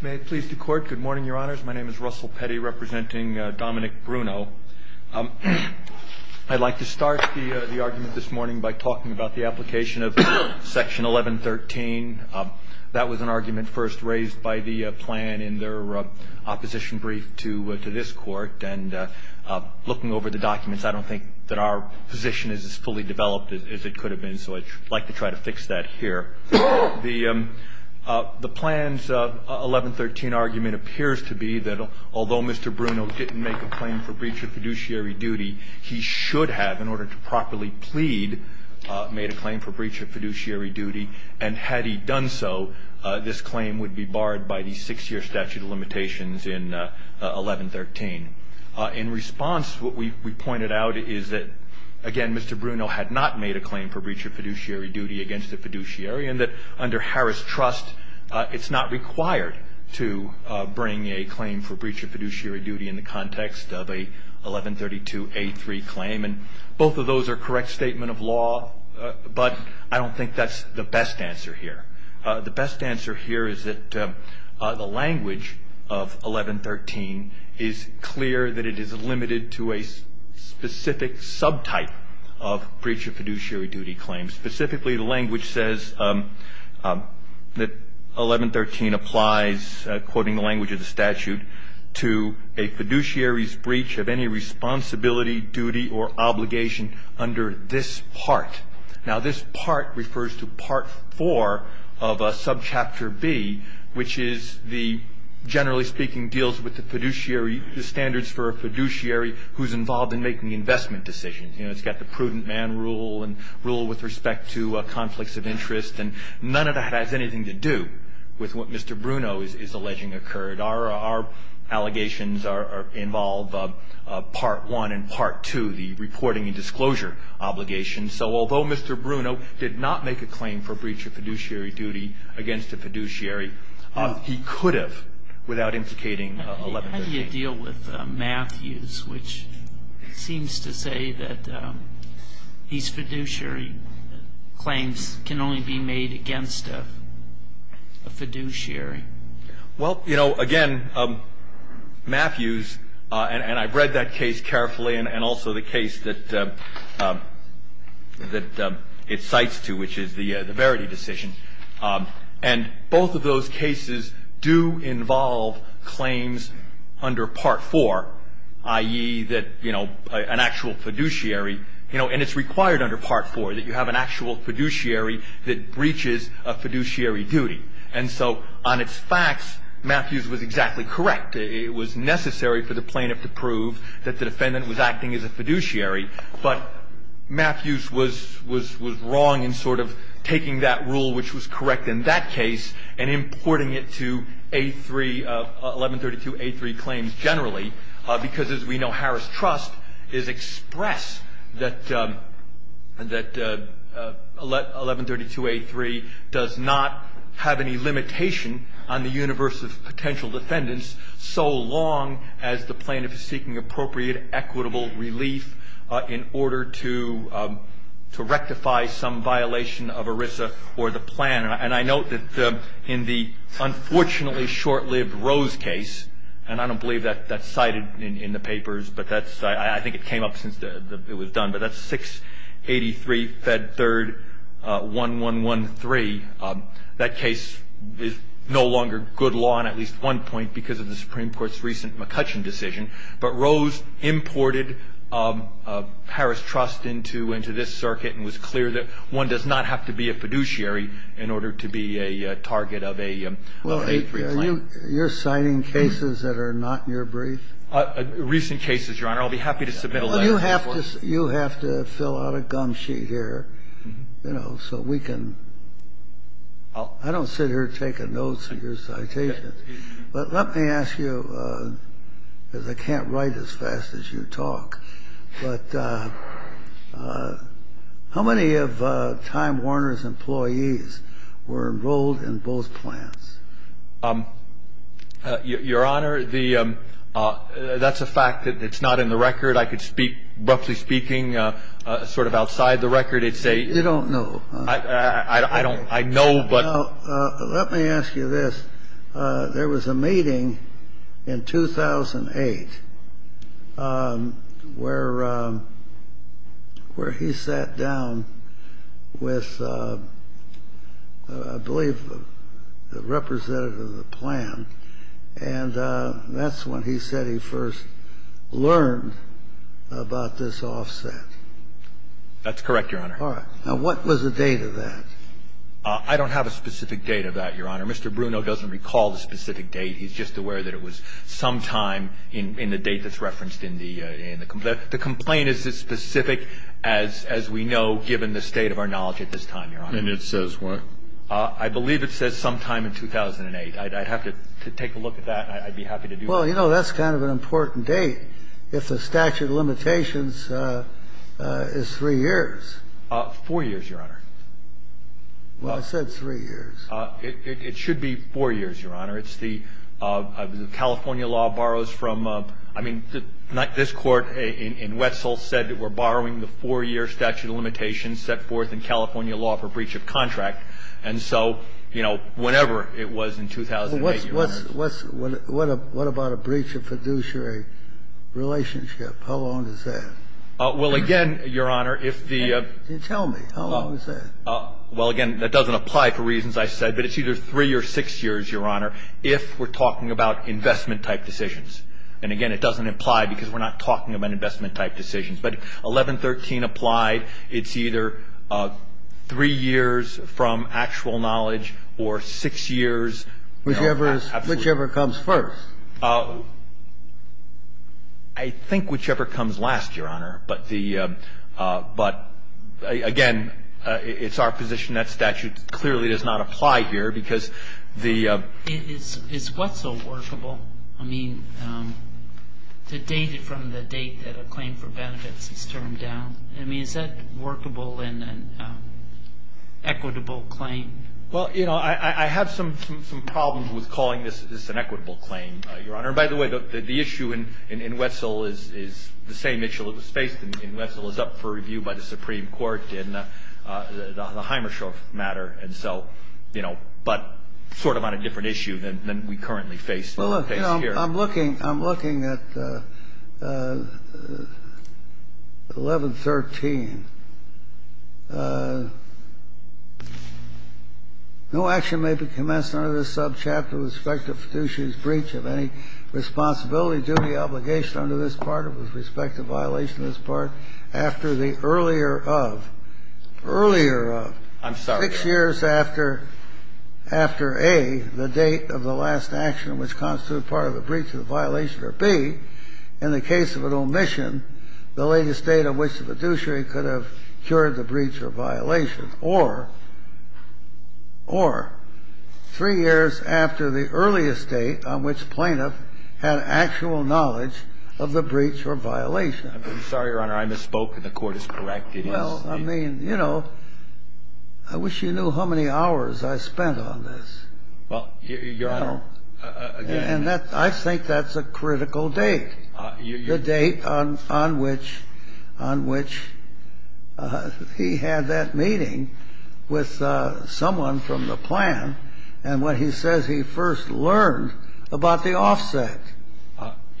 May it please the Court. Good morning, Your Honors. My name is Russell Petty, representing Dominick Bruno. I'd like to start the argument this morning by talking about the application of Section 1113. That was an argument first raised by the plan in their opposition brief to this Court. And looking over the documents, I don't think that our position is as fully developed as it could have been, so I'd like to try to fix that here. The plan's 1113 argument appears to be that, although Mr. Bruno didn't make a claim for breach of fiduciary duty, he should have, in order to properly plead, made a claim for breach of fiduciary duty. And had he done so, this claim would be barred by the six-year statute of limitations in 1113. In response, what we pointed out is that, again, Mr. Bruno had not made a claim for breach of fiduciary duty against the fiduciary, and that under Harris Trust, it's not required to bring a claim for breach of fiduciary duty in the context of a 1132A3 claim. And both of those are correct statement of law, but I don't think that's the best answer here. The best answer here is that the language of 1113 is clear that it is limited to a specific subtype of breach of fiduciary duty claim. Specifically, the language says that 1113 applies, quoting the language of the statute, to a fiduciary's breach of any responsibility, duty, or obligation under this part. Now, this part refers to part four of subchapter B, which is the, generally speaking, deals with the fiduciary, the standards for a fiduciary who's involved in making investment decisions. You know, it's got the prudent man rule and rule with respect to conflicts of interest, and none of that has anything to do with what Mr. Bruno is alleging occurred. Our allegations involve part one and part two, the reporting and disclosure obligation. So although Mr. Bruno did not make a claim for breach of fiduciary duty against a fiduciary, he could have without implicating 1113. How do you deal with Matthews, which seems to say that his fiduciary claims can only be made against a fiduciary? Well, you know, again, Matthews, and I've read that case carefully and also the case that it cites to, which is the Verity decision. And both of those cases do involve claims under part four, i.e., that, you know, an actual fiduciary, you know, and it's required under part four that you have an actual fiduciary that breaches a fiduciary duty. And so on its facts, Matthews was exactly correct. It was necessary for the plaintiff to prove that the defendant was acting as a fiduciary. But Matthews was wrong in sort of taking that rule, which was correct in that case, and importing it to A3, 1132A3 claims generally, because, as we know, Harris Trust is express that 1132A3 does not have any limitation on the universe of potential defendants so long as the plaintiff is seeking appropriate equitable relief in order to rectify some violation of ERISA or the plan. And I note that in the unfortunately short-lived Rose case, and I don't believe that's cited in the papers, but I think it came up since it was done, but that's 683 Fed 3rd 1113. And in order to prove that the defendant is acting as a fiduciary, if the defendant is not a fiduciary, that case is no longer good law in at least one point because of the Supreme Court's recent McCutcheon decision. But Rose imported Harris Trust into this circuit and was clear that one does not have to be a fiduciary in order to be a target of a A3 claim. Kennedy. You're citing cases that are not in your brief? Recent cases, Your Honor. I'll be happy to submit a letter. You have to fill out a gum sheet here, you know, so we can – I don't sit here taking notes of your citations. But let me ask you, because I can't write as fast as you talk, but how many of Time Warner's employees were enrolled in both plans? Your Honor, the – that's a fact that's not in the record. I could speak – roughly speaking, sort of outside the record, it's a – You don't know. I don't – I know, but – Let me ask you this. There was a meeting in 2008 where he sat down with, I believe, the representative of the plan, and that's when he said he first learned about this offset. That's correct, Your Honor. All right. Now, what was the date of that? I don't have a specific date of that, Your Honor. Mr. Bruno doesn't recall the specific date. He's just aware that it was sometime in the date that's referenced in the complaint. The complaint is as specific as we know, given the state of our knowledge at this time, Your Honor. And it says when? I believe it says sometime in 2008. I'd have to take a look at that, and I'd be happy to do that. Well, you know, that's kind of an important date if the statute of limitations is three years. Four years, Your Honor. Well, I said three years. It should be four years, Your Honor. It's the – California law borrows from – I mean, this Court in Wetzel said that we're borrowing the four-year statute of limitations set forth in California law for breach of contract. And so, you know, whenever it was in 2008, Your Honor. Well, what's – what about a breach of fiduciary relationship? How long is that? Well, again, Your Honor, if the – Tell me. How long is that? Well, again, that doesn't apply for reasons I said. But it's either three or six years, Your Honor, if we're talking about investment-type decisions. And, again, it doesn't apply because we're not talking about investment-type decisions. But 1113 applied, it's either three years from actual knowledge or six years – Whichever is – Absolutely. Whichever comes first. I think whichever comes last, Your Honor. But the – but, again, it's our position that statute clearly does not apply here because the – Is Wetzel workable? I mean, to date it from the date that a claim for benefits is termed down, I mean, is that workable in an equitable claim? Well, you know, I have some problems with calling this an equitable claim, Your Honor. And, by the way, the issue in Wetzel is the same issue that was faced in Wetzel. It's up for review by the Supreme Court in the Hymershoff matter. And so, you know, but sort of on a different issue than we currently face here. I'm looking – I'm looking at 1113. No action may be commenced under this subchapter with respect to fiduciary's breach of any responsibility, duty, obligation under this part or with respect to violation of this part after the earlier of – earlier of – I'm sorry, Your Honor. or violation, or three years after the earlier of the breach or violation. So three years after after A, the date of the last action which constituted part of the breach of the violation, or B, in the case of an omission, the latest date on which the fiduciary could have cured the breach or violation, or – or three years after the earliest date on which plaintiff had actual knowledge of the breach or violation. I'm sorry, Your Honor. I misspoke, and the Court is correct. It is – Well, I mean, you know, I wish you knew how many hours I spent on this. Well, Your Honor, again – I'm sorry. The first question is, did he have constructive notice of the offset on which he had that meeting with someone from the plan and when he says he first learned about the offset?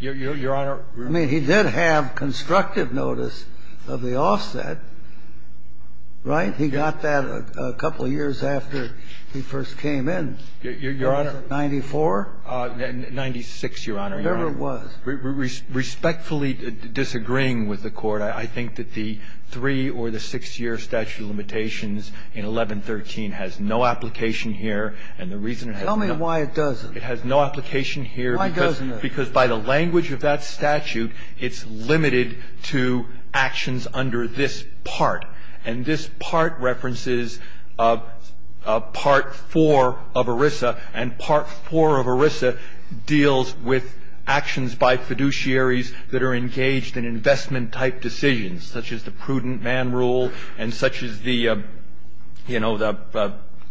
Your Honor – I mean, he did have constructive notice of the offset, right? He got that a couple of years after he first came in. Your Honor – Was it 94? 96, Your Honor. Whatever it was. Respectfully disagreeing with the court, I think that the three or the six year statute of limitations in 1113 has no application here and the reason – Tell me why it doesn't. It has no application here – Why doesn't it? Because by the language of that statute, it's limited to actions under this part. And this part references Part IV of ERISA, and Part IV of ERISA deals with actions by fiduciaries that are engaged in investment-type decisions, such as the prudent man rule and such as the, you know, the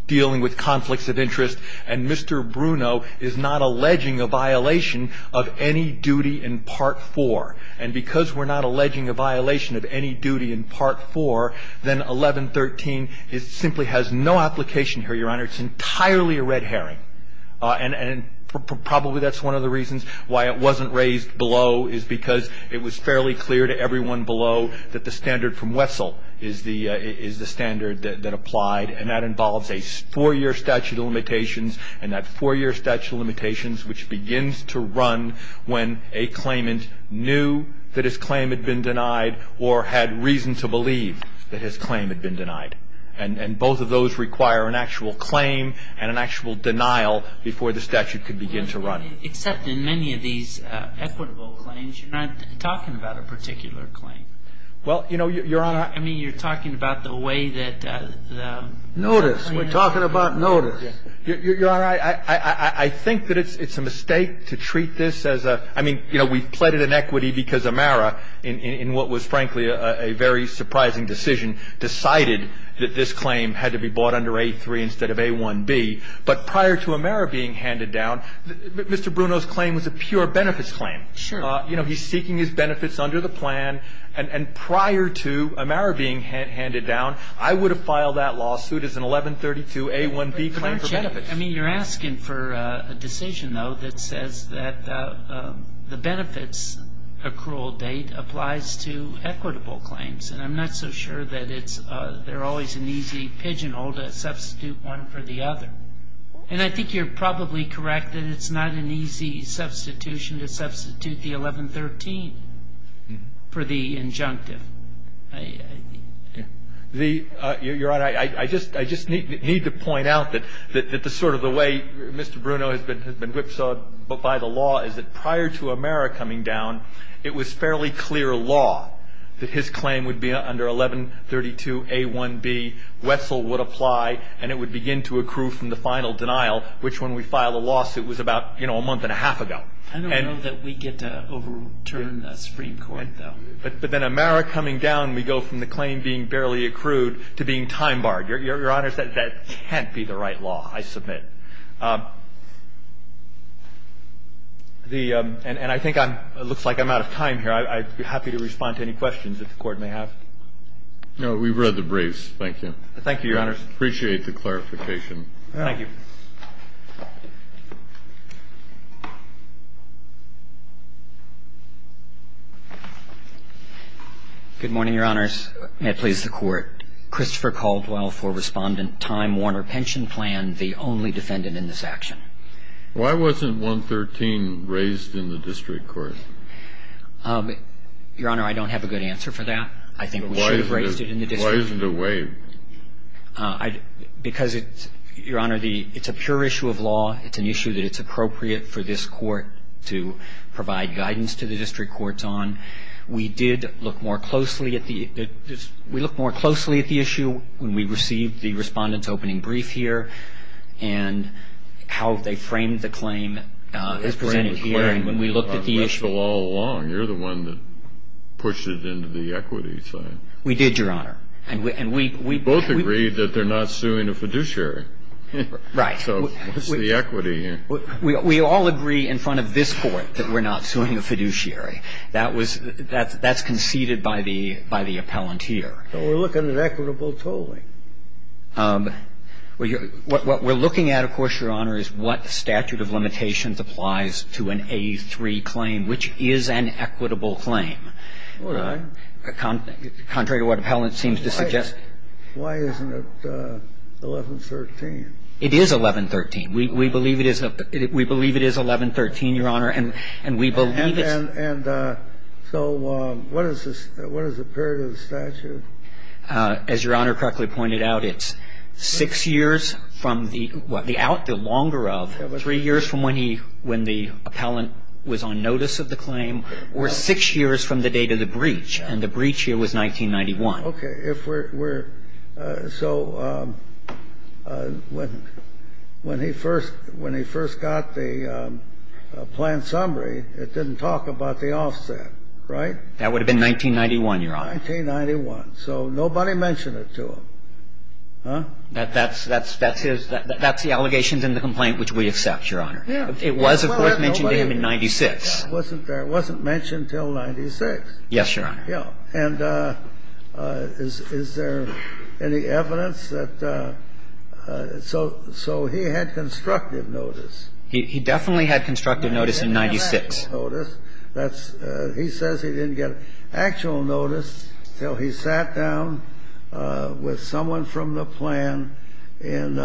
dealing with conflicts of interest. And Mr. Bruno is not alleging a violation of any duty in Part IV. And because we're not alleging a violation of any duty in Part IV, then 1113 simply has no application here, Your Honor. It's entirely a red herring. And probably that's one of the reasons why it wasn't raised below is because it was fairly clear to everyone below that the standard from Wessel is the standard that applied. And that involves a four-year statute of limitations, and that four-year statute of limitations, which begins to run when a claimant knew that his claim had been denied or had reason to believe that his claim had been denied. And both of those require an actual claim and an actual denial before the statute could begin to run. Well, except in many of these equitable claims, you're not talking about a particular claim. Well, you know, Your Honor. I mean, you're talking about the way that the claimant. Notice. We're talking about notice. Your Honor, I think that it's a mistake to treat this as a, I mean, you know, we've pledged an equity because Amera, in what was frankly a very surprising decision, decided that this claim had to be bought under A3 instead of A1B. But prior to Amera being handed down, Mr. Bruno's claim was a pure benefits claim. Sure. You know, he's seeking his benefits under the plan. And prior to Amera being handed down, I would have filed that lawsuit as an 1132A1B claim for benefits. But, Your Honor, I mean, you're asking for a decision, though, that says that the benefits accrual date applies to equitable claims. And I'm not so sure that it's always an easy pigeonhole to substitute one for the other. And I think you're probably correct that it's not an easy substitution to substitute the 1113 for the injunctive. Your Honor, I just need to point out that the sort of the way Mr. Bruno has been whipsawed by the law is that prior to Amera coming down, it was fairly clear law that his claim would be under 1132A1B, Wessel would apply, and it would begin to accrue from the final denial, which when we filed the lawsuit was about, you know, a month and a half ago. I don't know that we get to overturn the Supreme Court, though. But then Amera coming down, we go from the claim being barely accrued to being time-barred. Your Honor, that can't be the right law, I submit. The – and I think I'm – it looks like I'm out of time here. I'd be happy to respond to any questions that the Court may have. No, we've read the briefs. Thank you. Thank you, Your Honors. Appreciate the clarification. Thank you. Good morning, Your Honors. May it please the Court. Christopher Caldwell for Respondent, Time Warner Pension Plan, the only defendant in this action. Why wasn't 113 raised in the district court? Your Honor, I don't have a good answer for that. I think we should have raised it in the district court. Why isn't it waived? It's a fair issue of law. It's an issue that it's appropriate for this Court to provide guidance to the district courts on. We did look more closely at the – we looked more closely at the issue when we received the Respondent's opening brief here and how they framed the claim as presented here and when we looked at the issue. They framed the claim on whistle all along. You're the one that pushed it into the equity side. We did, Your Honor. And we – Both agreed that they're not suing a fiduciary. Right. So what's the equity here? We all agree in front of this Court that we're not suing a fiduciary. That was – that's conceded by the – by the appellant here. But we're looking at equitable tolling. What we're looking at, of course, Your Honor, is what statute of limitations applies to an A3 claim, which is an equitable claim. All right. Contrary to what the appellant seems to suggest. Why isn't it 1113? It is 1113. We believe it is – we believe it is 1113, Your Honor, and we believe it's – And so what is the – what is the period of the statute? As Your Honor correctly pointed out, it's six years from the – well, the longer of, three years from when he – when the appellant was on notice of the claim, or six years from the date of the breach. And the breach here was 1991. Okay. If we're – so when he first – when he first got the planned summary, it didn't talk about the offset, right? That would have been 1991, Your Honor. 1991. So nobody mentioned it to him. Huh? That's – that's his – that's the allegations in the complaint which we accept, Your Honor. It was, of course, mentioned to him in 96. It wasn't there. It wasn't mentioned until 96. Yes, Your Honor. Yeah. And is there any evidence that – so he had constructive notice. He definitely had constructive notice in 96. He didn't have actual notice. That's – he says he didn't get actual notice until he sat down with someone from the plan in,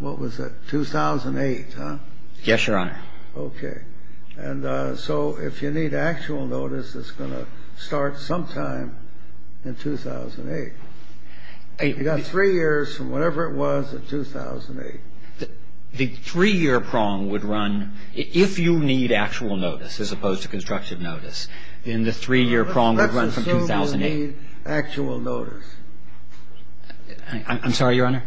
what was it, 2008, huh? Yes, Your Honor. Okay. And so if you need actual notice, it's going to start sometime in 2008. You've got three years from whatever it was in 2008. The three-year prong would run – if you need actual notice as opposed to constructive notice, then the three-year prong would run from 2008. Let's assume you need actual notice. I'm sorry, Your Honor?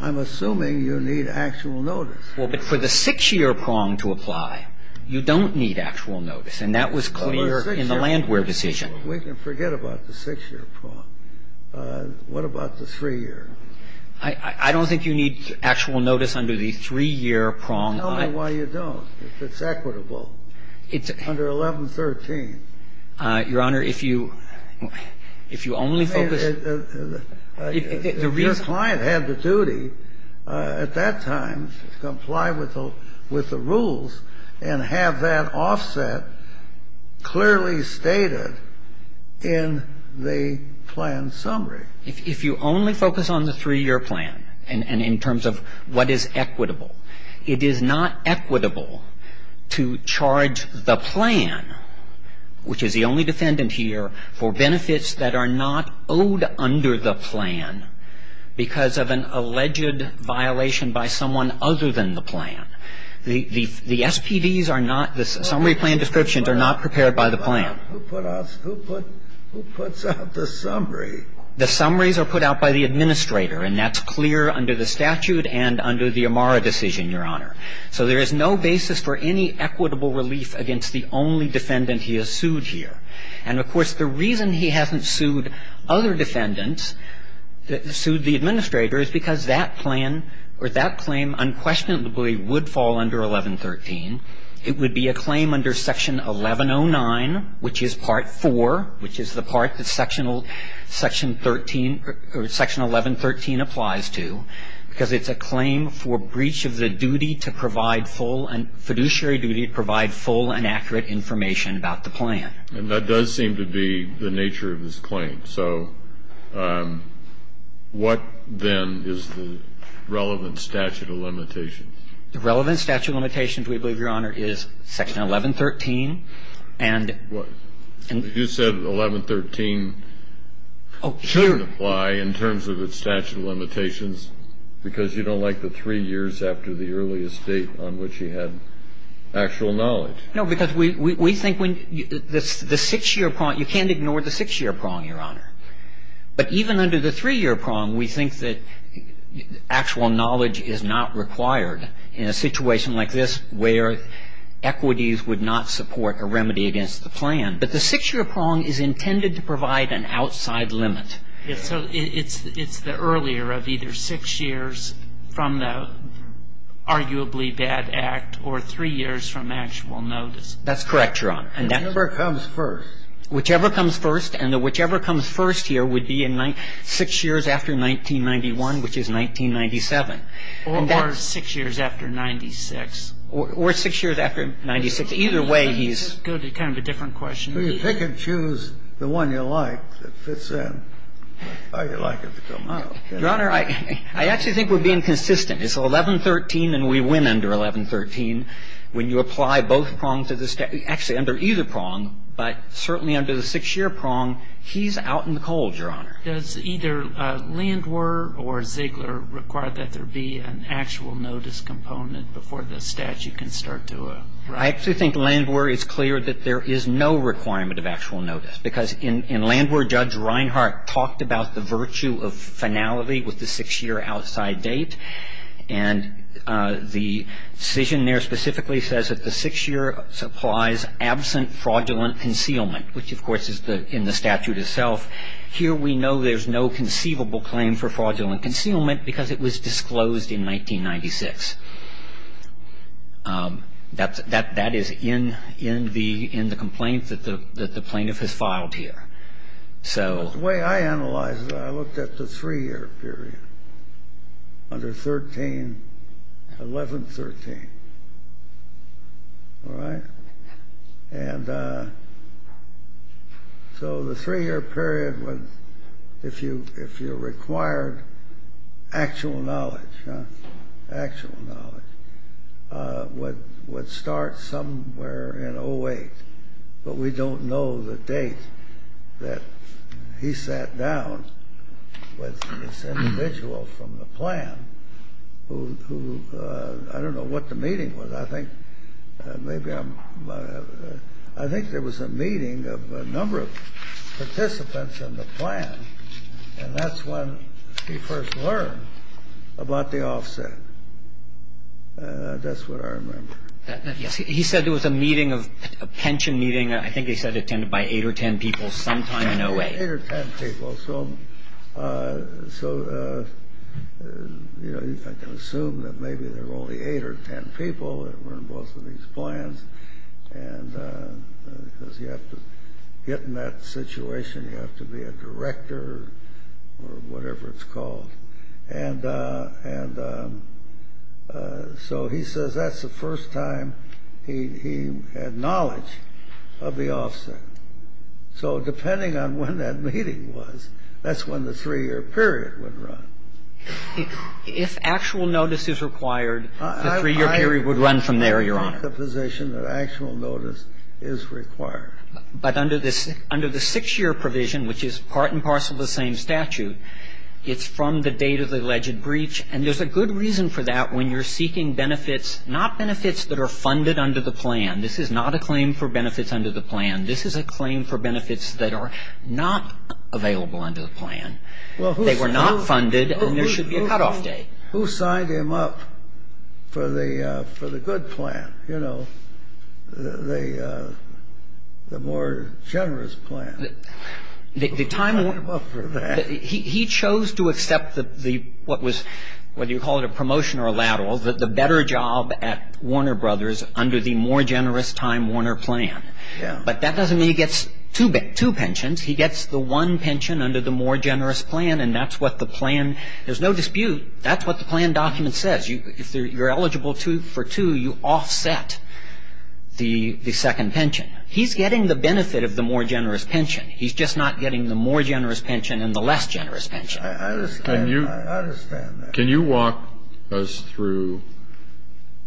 I'm assuming you need actual notice. Well, but for the six-year prong to apply, you don't need actual notice, and that was clear in the Landwehr decision. We can forget about the six-year prong. What about the three-year? I don't think you need actual notice under the three-year prong. Tell me why you don't, if it's equitable under 1113. Your Honor, if you only focus – Your client had the duty at that time to comply with the rules and have that offset clearly stated in the plan summary. If you only focus on the three-year plan and in terms of what is equitable, it is not equitable to charge the plan, which is the only defendant here, for benefits that are not owed under the plan because of an alleged violation by someone other than the plan. The SPDs are not – the summary plan descriptions are not prepared by the plan. Who puts out the summary? The summaries are put out by the administrator, and that's clear under the statute and under the Amara decision, Your Honor. So there is no basis for any equitable relief against the only defendant he has sued And, of course, the reason he hasn't sued other defendants, sued the administrator, is because that plan or that claim unquestionably would fall under 1113. It would be a claim under Section 1109, which is Part 4, which is the part that Section 13 – or Section 1113 applies to, because it's a claim for breach of the duty to provide full – fiduciary duty to provide full and accurate information about the plan. And that does seem to be the nature of this claim. So what, then, is the relevant statute of limitations? The relevant statute of limitations, we believe, Your Honor, is Section 1113. And – What? You said 1113 shouldn't apply in terms of its statute of limitations because you don't like the three years after the earliest date on which he had actual knowledge. No, because we think when – the six-year – you can't ignore the six-year prong, Your Honor. But even under the three-year prong, we think that actual knowledge is not required in a situation like this where equities would not support a remedy against the plan. But the six-year prong is intended to provide an outside limit. So it's the earlier of either six years from the arguably bad act or three years from the actual notice. That's correct, Your Honor. Whichever comes first. Whichever comes first. And the whichever comes first here would be in six years after 1991, which is 1997. Or six years after 96. Or six years after 96. Either way, he's – Go to kind of a different question. Well, you pick and choose the one you like that fits in how you like it to come out. Your Honor, I actually think we're being consistent. It's 1113 and we win under 1113. When you apply both prongs to the – actually, under either prong, but certainly under the six-year prong, he's out in the cold, Your Honor. Does either Landwehr or Ziegler require that there be an actual notice component before the statute can start to – I actually think Landwehr is clear that there is no requirement of actual notice. Because in Landwehr, Judge Reinhart talked about the virtue of finality with the six-year outside date. And the decision there specifically says that the six-year supplies absent fraudulent concealment, which, of course, is in the statute itself. Here we know there's no conceivable claim for fraudulent concealment because it was disclosed in 1996. That is in the complaint that the plaintiff has filed here. The way I analyze it, I looked at the three-year period, under 1113. All right? And so the three-year period, if you required actual knowledge, would start somewhere in 08. But we don't know the date that he sat down with this individual from the plan who – I don't know what the meeting was. I think maybe I'm – I think there was a meeting of a number of participants in the plan, and that's when he first learned about the offset. That's what I remember. Yes. He said there was a meeting of – a pension meeting, I think he said, attended by eight or ten people sometime in 08. Eight or ten people. So, you know, I can assume that maybe there were only eight or ten people that were in both of these plans. And because you have to get in that situation, you have to be a director or whatever it's called. And so he says that's the first time he had knowledge of the offset. So depending on when that meeting was, that's when the three-year period would run. If actual notice is required, the three-year period would run from there, Your Honor. I'm not in the position that actual notice is required. But under the six-year provision, which is part and parcel of the same statute, it's from the date of the alleged breach. And there's a good reason for that when you're seeking benefits, not benefits that are funded under the plan. This is not a claim for benefits under the plan. This is a claim for benefits that are not available under the plan. They were not funded, and there should be a cutoff date. Who signed him up for the good plan, you know, the more generous plan? Who signed him up for that? He chose to accept what was, whether you call it a promotion or a lateral, the better job at Warner Brothers under the more generous Time Warner plan. But that doesn't mean he gets two pensions. He gets the one pension under the more generous plan, and that's what the plan – there's no dispute, that's what the plan document says. If you're eligible for two, you offset the second pension. He's getting the benefit of the more generous pension. He's just not getting the more generous pension and the less generous pension. I understand. I understand that. Can you walk us through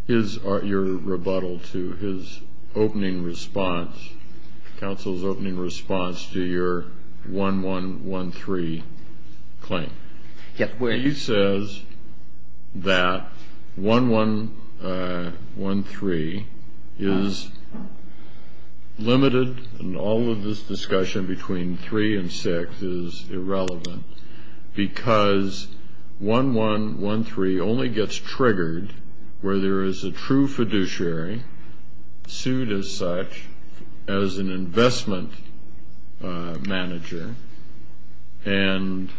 his – your rebuttal to his opening response, counsel's opening response to your 1113 claim? He says that 1113 is limited, and all of this discussion between three and six is irrelevant, because 1113 only gets triggered where there is a true fiduciary, sued as such as an investment manager, and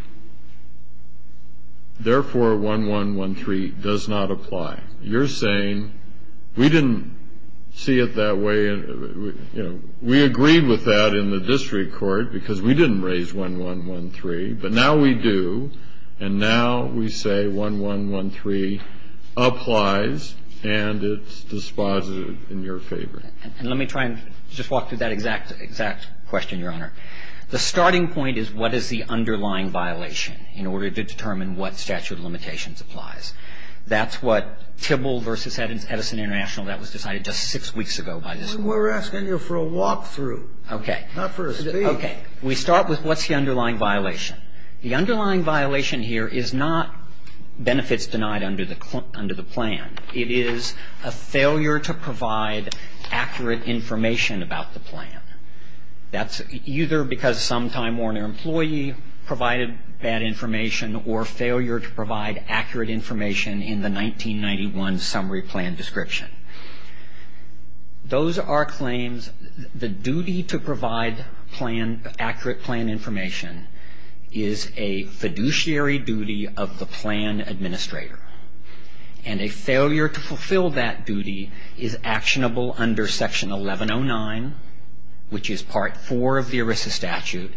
therefore 1113 does not apply. You're saying we didn't see it that way. We agreed with that in the district court because we didn't raise 1113, but now we do, and now we say 1113 applies, and it's dispositive in your favor. And let me try and just walk through that exact question, Your Honor. The starting point is what is the underlying violation in order to determine what statute of limitations applies. That's what Tybill v. Edison International, that was decided just six weeks ago by this Court. We're asking you for a walk-through, not for a speech. Okay. We start with what's the underlying violation. The underlying violation here is not benefits denied under the plan. It is a failure to provide accurate information about the plan. That's either because some time or an employee provided bad information or failure to provide accurate information in the 1991 summary plan description. Those are claims, the duty to provide plan, accurate plan information, is a fiduciary duty of the plan administrator, and a failure to fulfill that duty is actionable under section 1109, which is part four of the ERISA statute,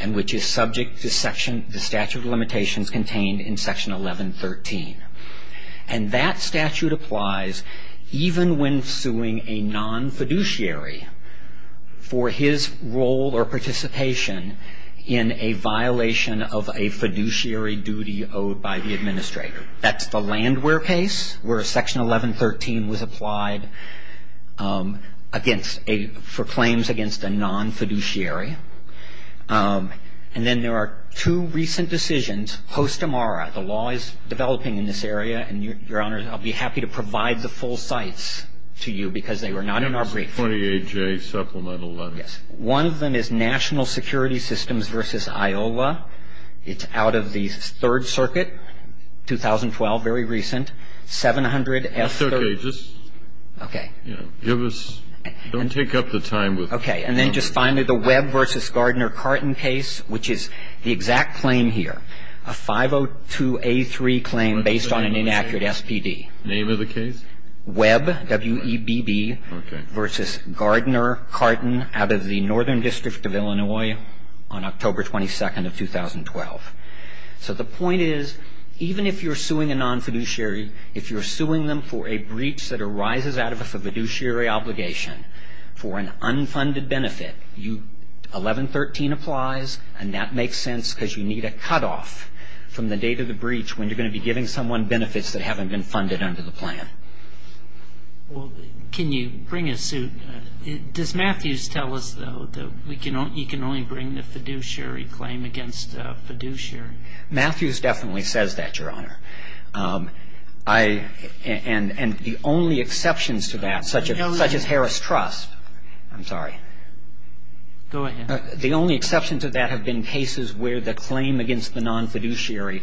and which is subject to statute of limitations contained in section 1113. And that statute applies even when suing a non-fiduciary for his role or participation in a violation of a fiduciary duty owed by the administrator. That's the Landwehr case, where section 1113 was applied for claims against a non-fiduciary. And then there are two recent decisions. Postamara, the law is developing in this area, and, Your Honor, I'll be happy to provide the full sites to you because they were not in our brief. 28J supplemental letter. Yes. One of them is National Security Systems v. IOLA. It's out of the Third Circuit, 2012, very recent. 700S3. That's okay. Just, you know, give us don't take up the time with. Okay. And then just finally the Webb v. Gardner-Carton case, which is the exact claim here. A 502A3 claim based on an inaccurate SPD. Name of the case? Webb, W-E-B-B, v. Gardner-Carton out of the Northern District of Illinois on October 22nd of 2012. So the point is, even if you're suing a non-fiduciary, if you're suing them for a breach that arises out of a fiduciary obligation for an unfunded benefit, 1113 applies, and that makes sense because you need a cutoff from the date of the breach when you're going to be giving someone benefits that haven't been funded under the plan. Well, can you bring a suit? Does Matthews tell us, though, that you can only bring the fiduciary claim against fiduciary? Matthews definitely says that, Your Honor. And the only exceptions to that, such as Harris Trust. I'm sorry. Go ahead. The only exceptions to that have been cases where the claim against the non-fiduciary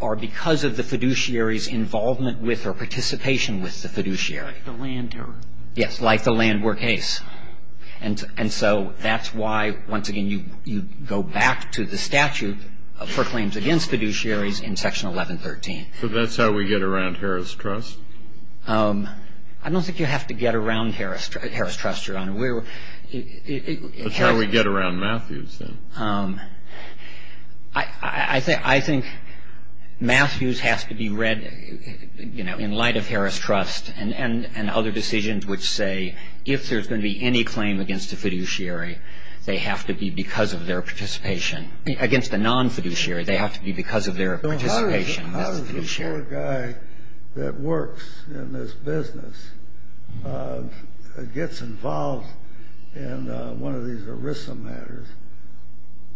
are because of the fiduciary's involvement with or participation with the fiduciary. The Landwer. Yes, like the Landwer case. And so that's why, once again, you go back to the statute for claims against fiduciaries in Section 1113. So that's how we get around Harris Trust? I don't think you have to get around Harris Trust, Your Honor. That's how we get around Matthews, then. I think Matthews has to be read in light of Harris Trust and other decisions which say if there's going to be any claim against the fiduciary, they have to be because of their participation. Against the non-fiduciary, they have to be because of their participation with the fiduciary. If a lawyer guy that works in this business gets involved in one of these ERISA matters,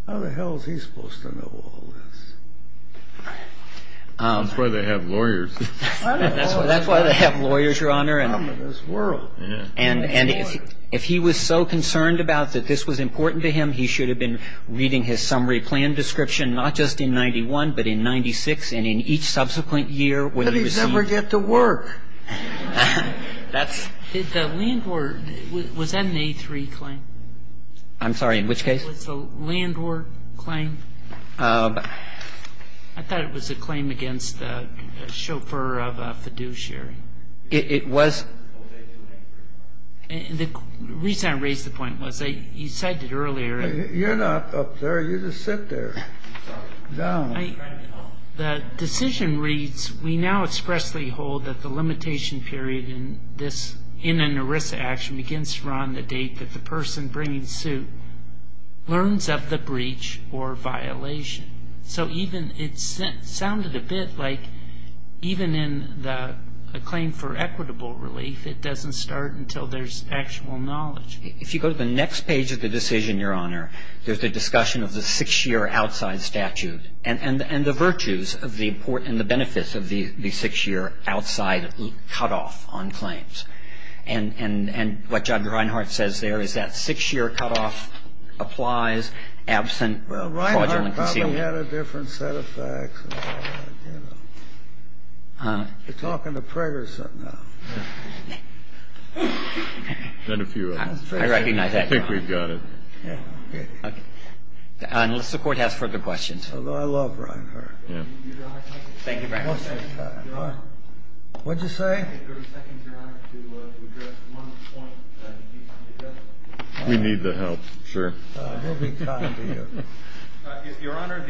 how the hell is he supposed to know all this? That's why they have lawyers. That's why they have lawyers, Your Honor. In this world. And if he was so concerned about that this was important to him, he should have been reading his summary plan description not just in 91 but in 96 and in each subsequent year when he received. But he's never get to work. That's. The Landward. Was that an A3 claim? I'm sorry. In which case? Was the Landward claim? I thought it was a claim against a chauffeur of a fiduciary. It was. The reason I raised the point was you cited earlier. You're not up there. You just sit there. I'm sorry. Down. The decision reads we now expressly hold that the limitation period in this in an ERISA action begins from the date that the person bringing suit learns of the breach or violation. So even it sounded a bit like even in the claim for equitable relief, it doesn't start until there's actual knowledge. If you go to the next page of the decision, Your Honor, there's a discussion of the six-year outside statute and the virtues of the important and the benefits of the six-year outside cutoff on claims. And what Judge Reinhart says there is that six-year cutoff applies absent fraudulent concealment. Well, Reinhart probably had a different set of facts. You're talking to Preggers. I recognize that. I think we've got it. Unless the Court has further questions. I love Reinhart. Thank you, Your Honor. What did you say? We need the help. Sure. Your Honor,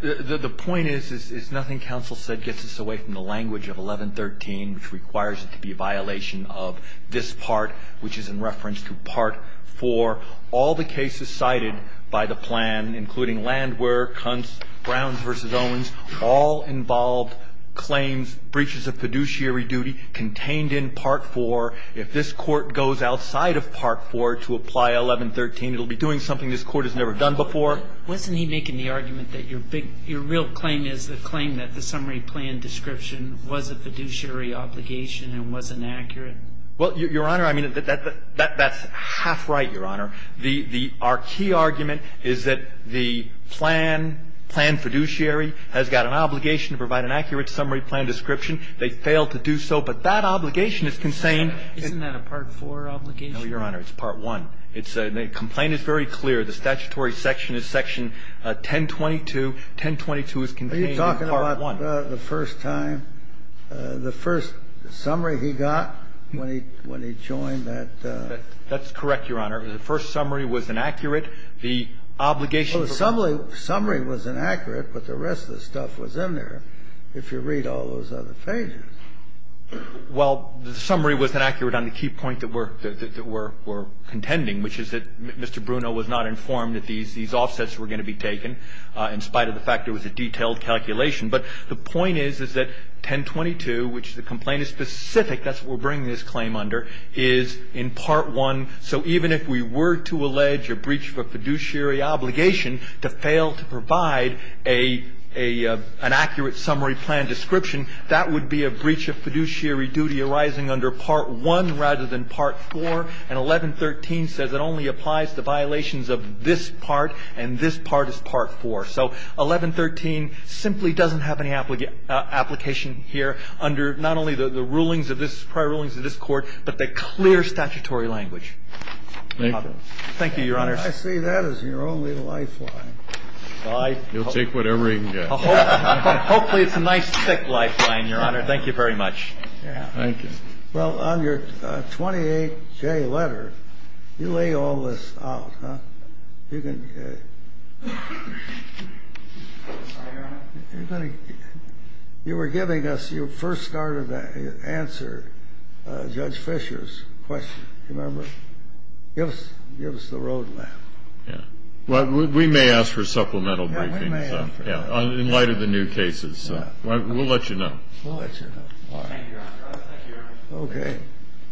the point is, is nothing counsel said gets us away from the language of 1113, which requires it to be a violation of this part, which is in reference to Part 4. All the cases cited by the plan, including Landwehr, Kunz, Browns v. Owens, all involved claims, breaches of fiduciary duty contained in Part 4. If this Court goes outside of Part 4 to apply 1113, it will be doing something this Court has never done before. Wasn't he making the argument that your real claim is the claim that the summary plan description was a fiduciary obligation and was inaccurate? Well, Your Honor, I mean, that's half right, Your Honor. Our key argument is that the plan, plan fiduciary, has got an obligation to provide an accurate summary plan description. They failed to do so, but that obligation is contained. Isn't that a Part 4 obligation? No, Your Honor, it's Part 1. The complaint is very clear. The statutory section is Section 1022. 1022 is contained in Part 1. But the first time, the first summary he got when he joined that ---- That's correct, Your Honor. The first summary was inaccurate. The obligation for ---- Well, the summary was inaccurate, but the rest of the stuff was in there if you read all those other pages. Well, the summary was inaccurate on the key point that we're contending, which is that Mr. Bruno was not informed that these offsets were going to be taken in spite of the fact it was a detailed calculation. But the point is, is that 1022, which the complaint is specific, that's what we're bringing this claim under, is in Part 1. So even if we were to allege a breach of a fiduciary obligation to fail to provide an accurate summary plan description, that would be a breach of fiduciary duty arising under Part 1 rather than Part 4. And 1113 says it only applies to violations of this part, and this part is Part 4. So 1113 simply doesn't have any application here under not only the rulings of this prior rulings of this Court, but the clear statutory language. Thank you. Thank you, Your Honor. I see that as your only lifeline. You'll take whatever you can get. Hopefully it's a nice thick lifeline, Your Honor. Thank you very much. Thank you. Well, on your 28J letter, you lay all this out, huh? Sorry, Your Honor. You were giving us your first start of answer, Judge Fischer's question. Remember? Give us the road map. Yeah. Well, we may ask for supplemental briefings. Yeah, we may ask for that. Yeah, in light of the new cases. We'll let you know. We'll let you know. Thank you, Your Honor. Thank you, Your Honor. Okay.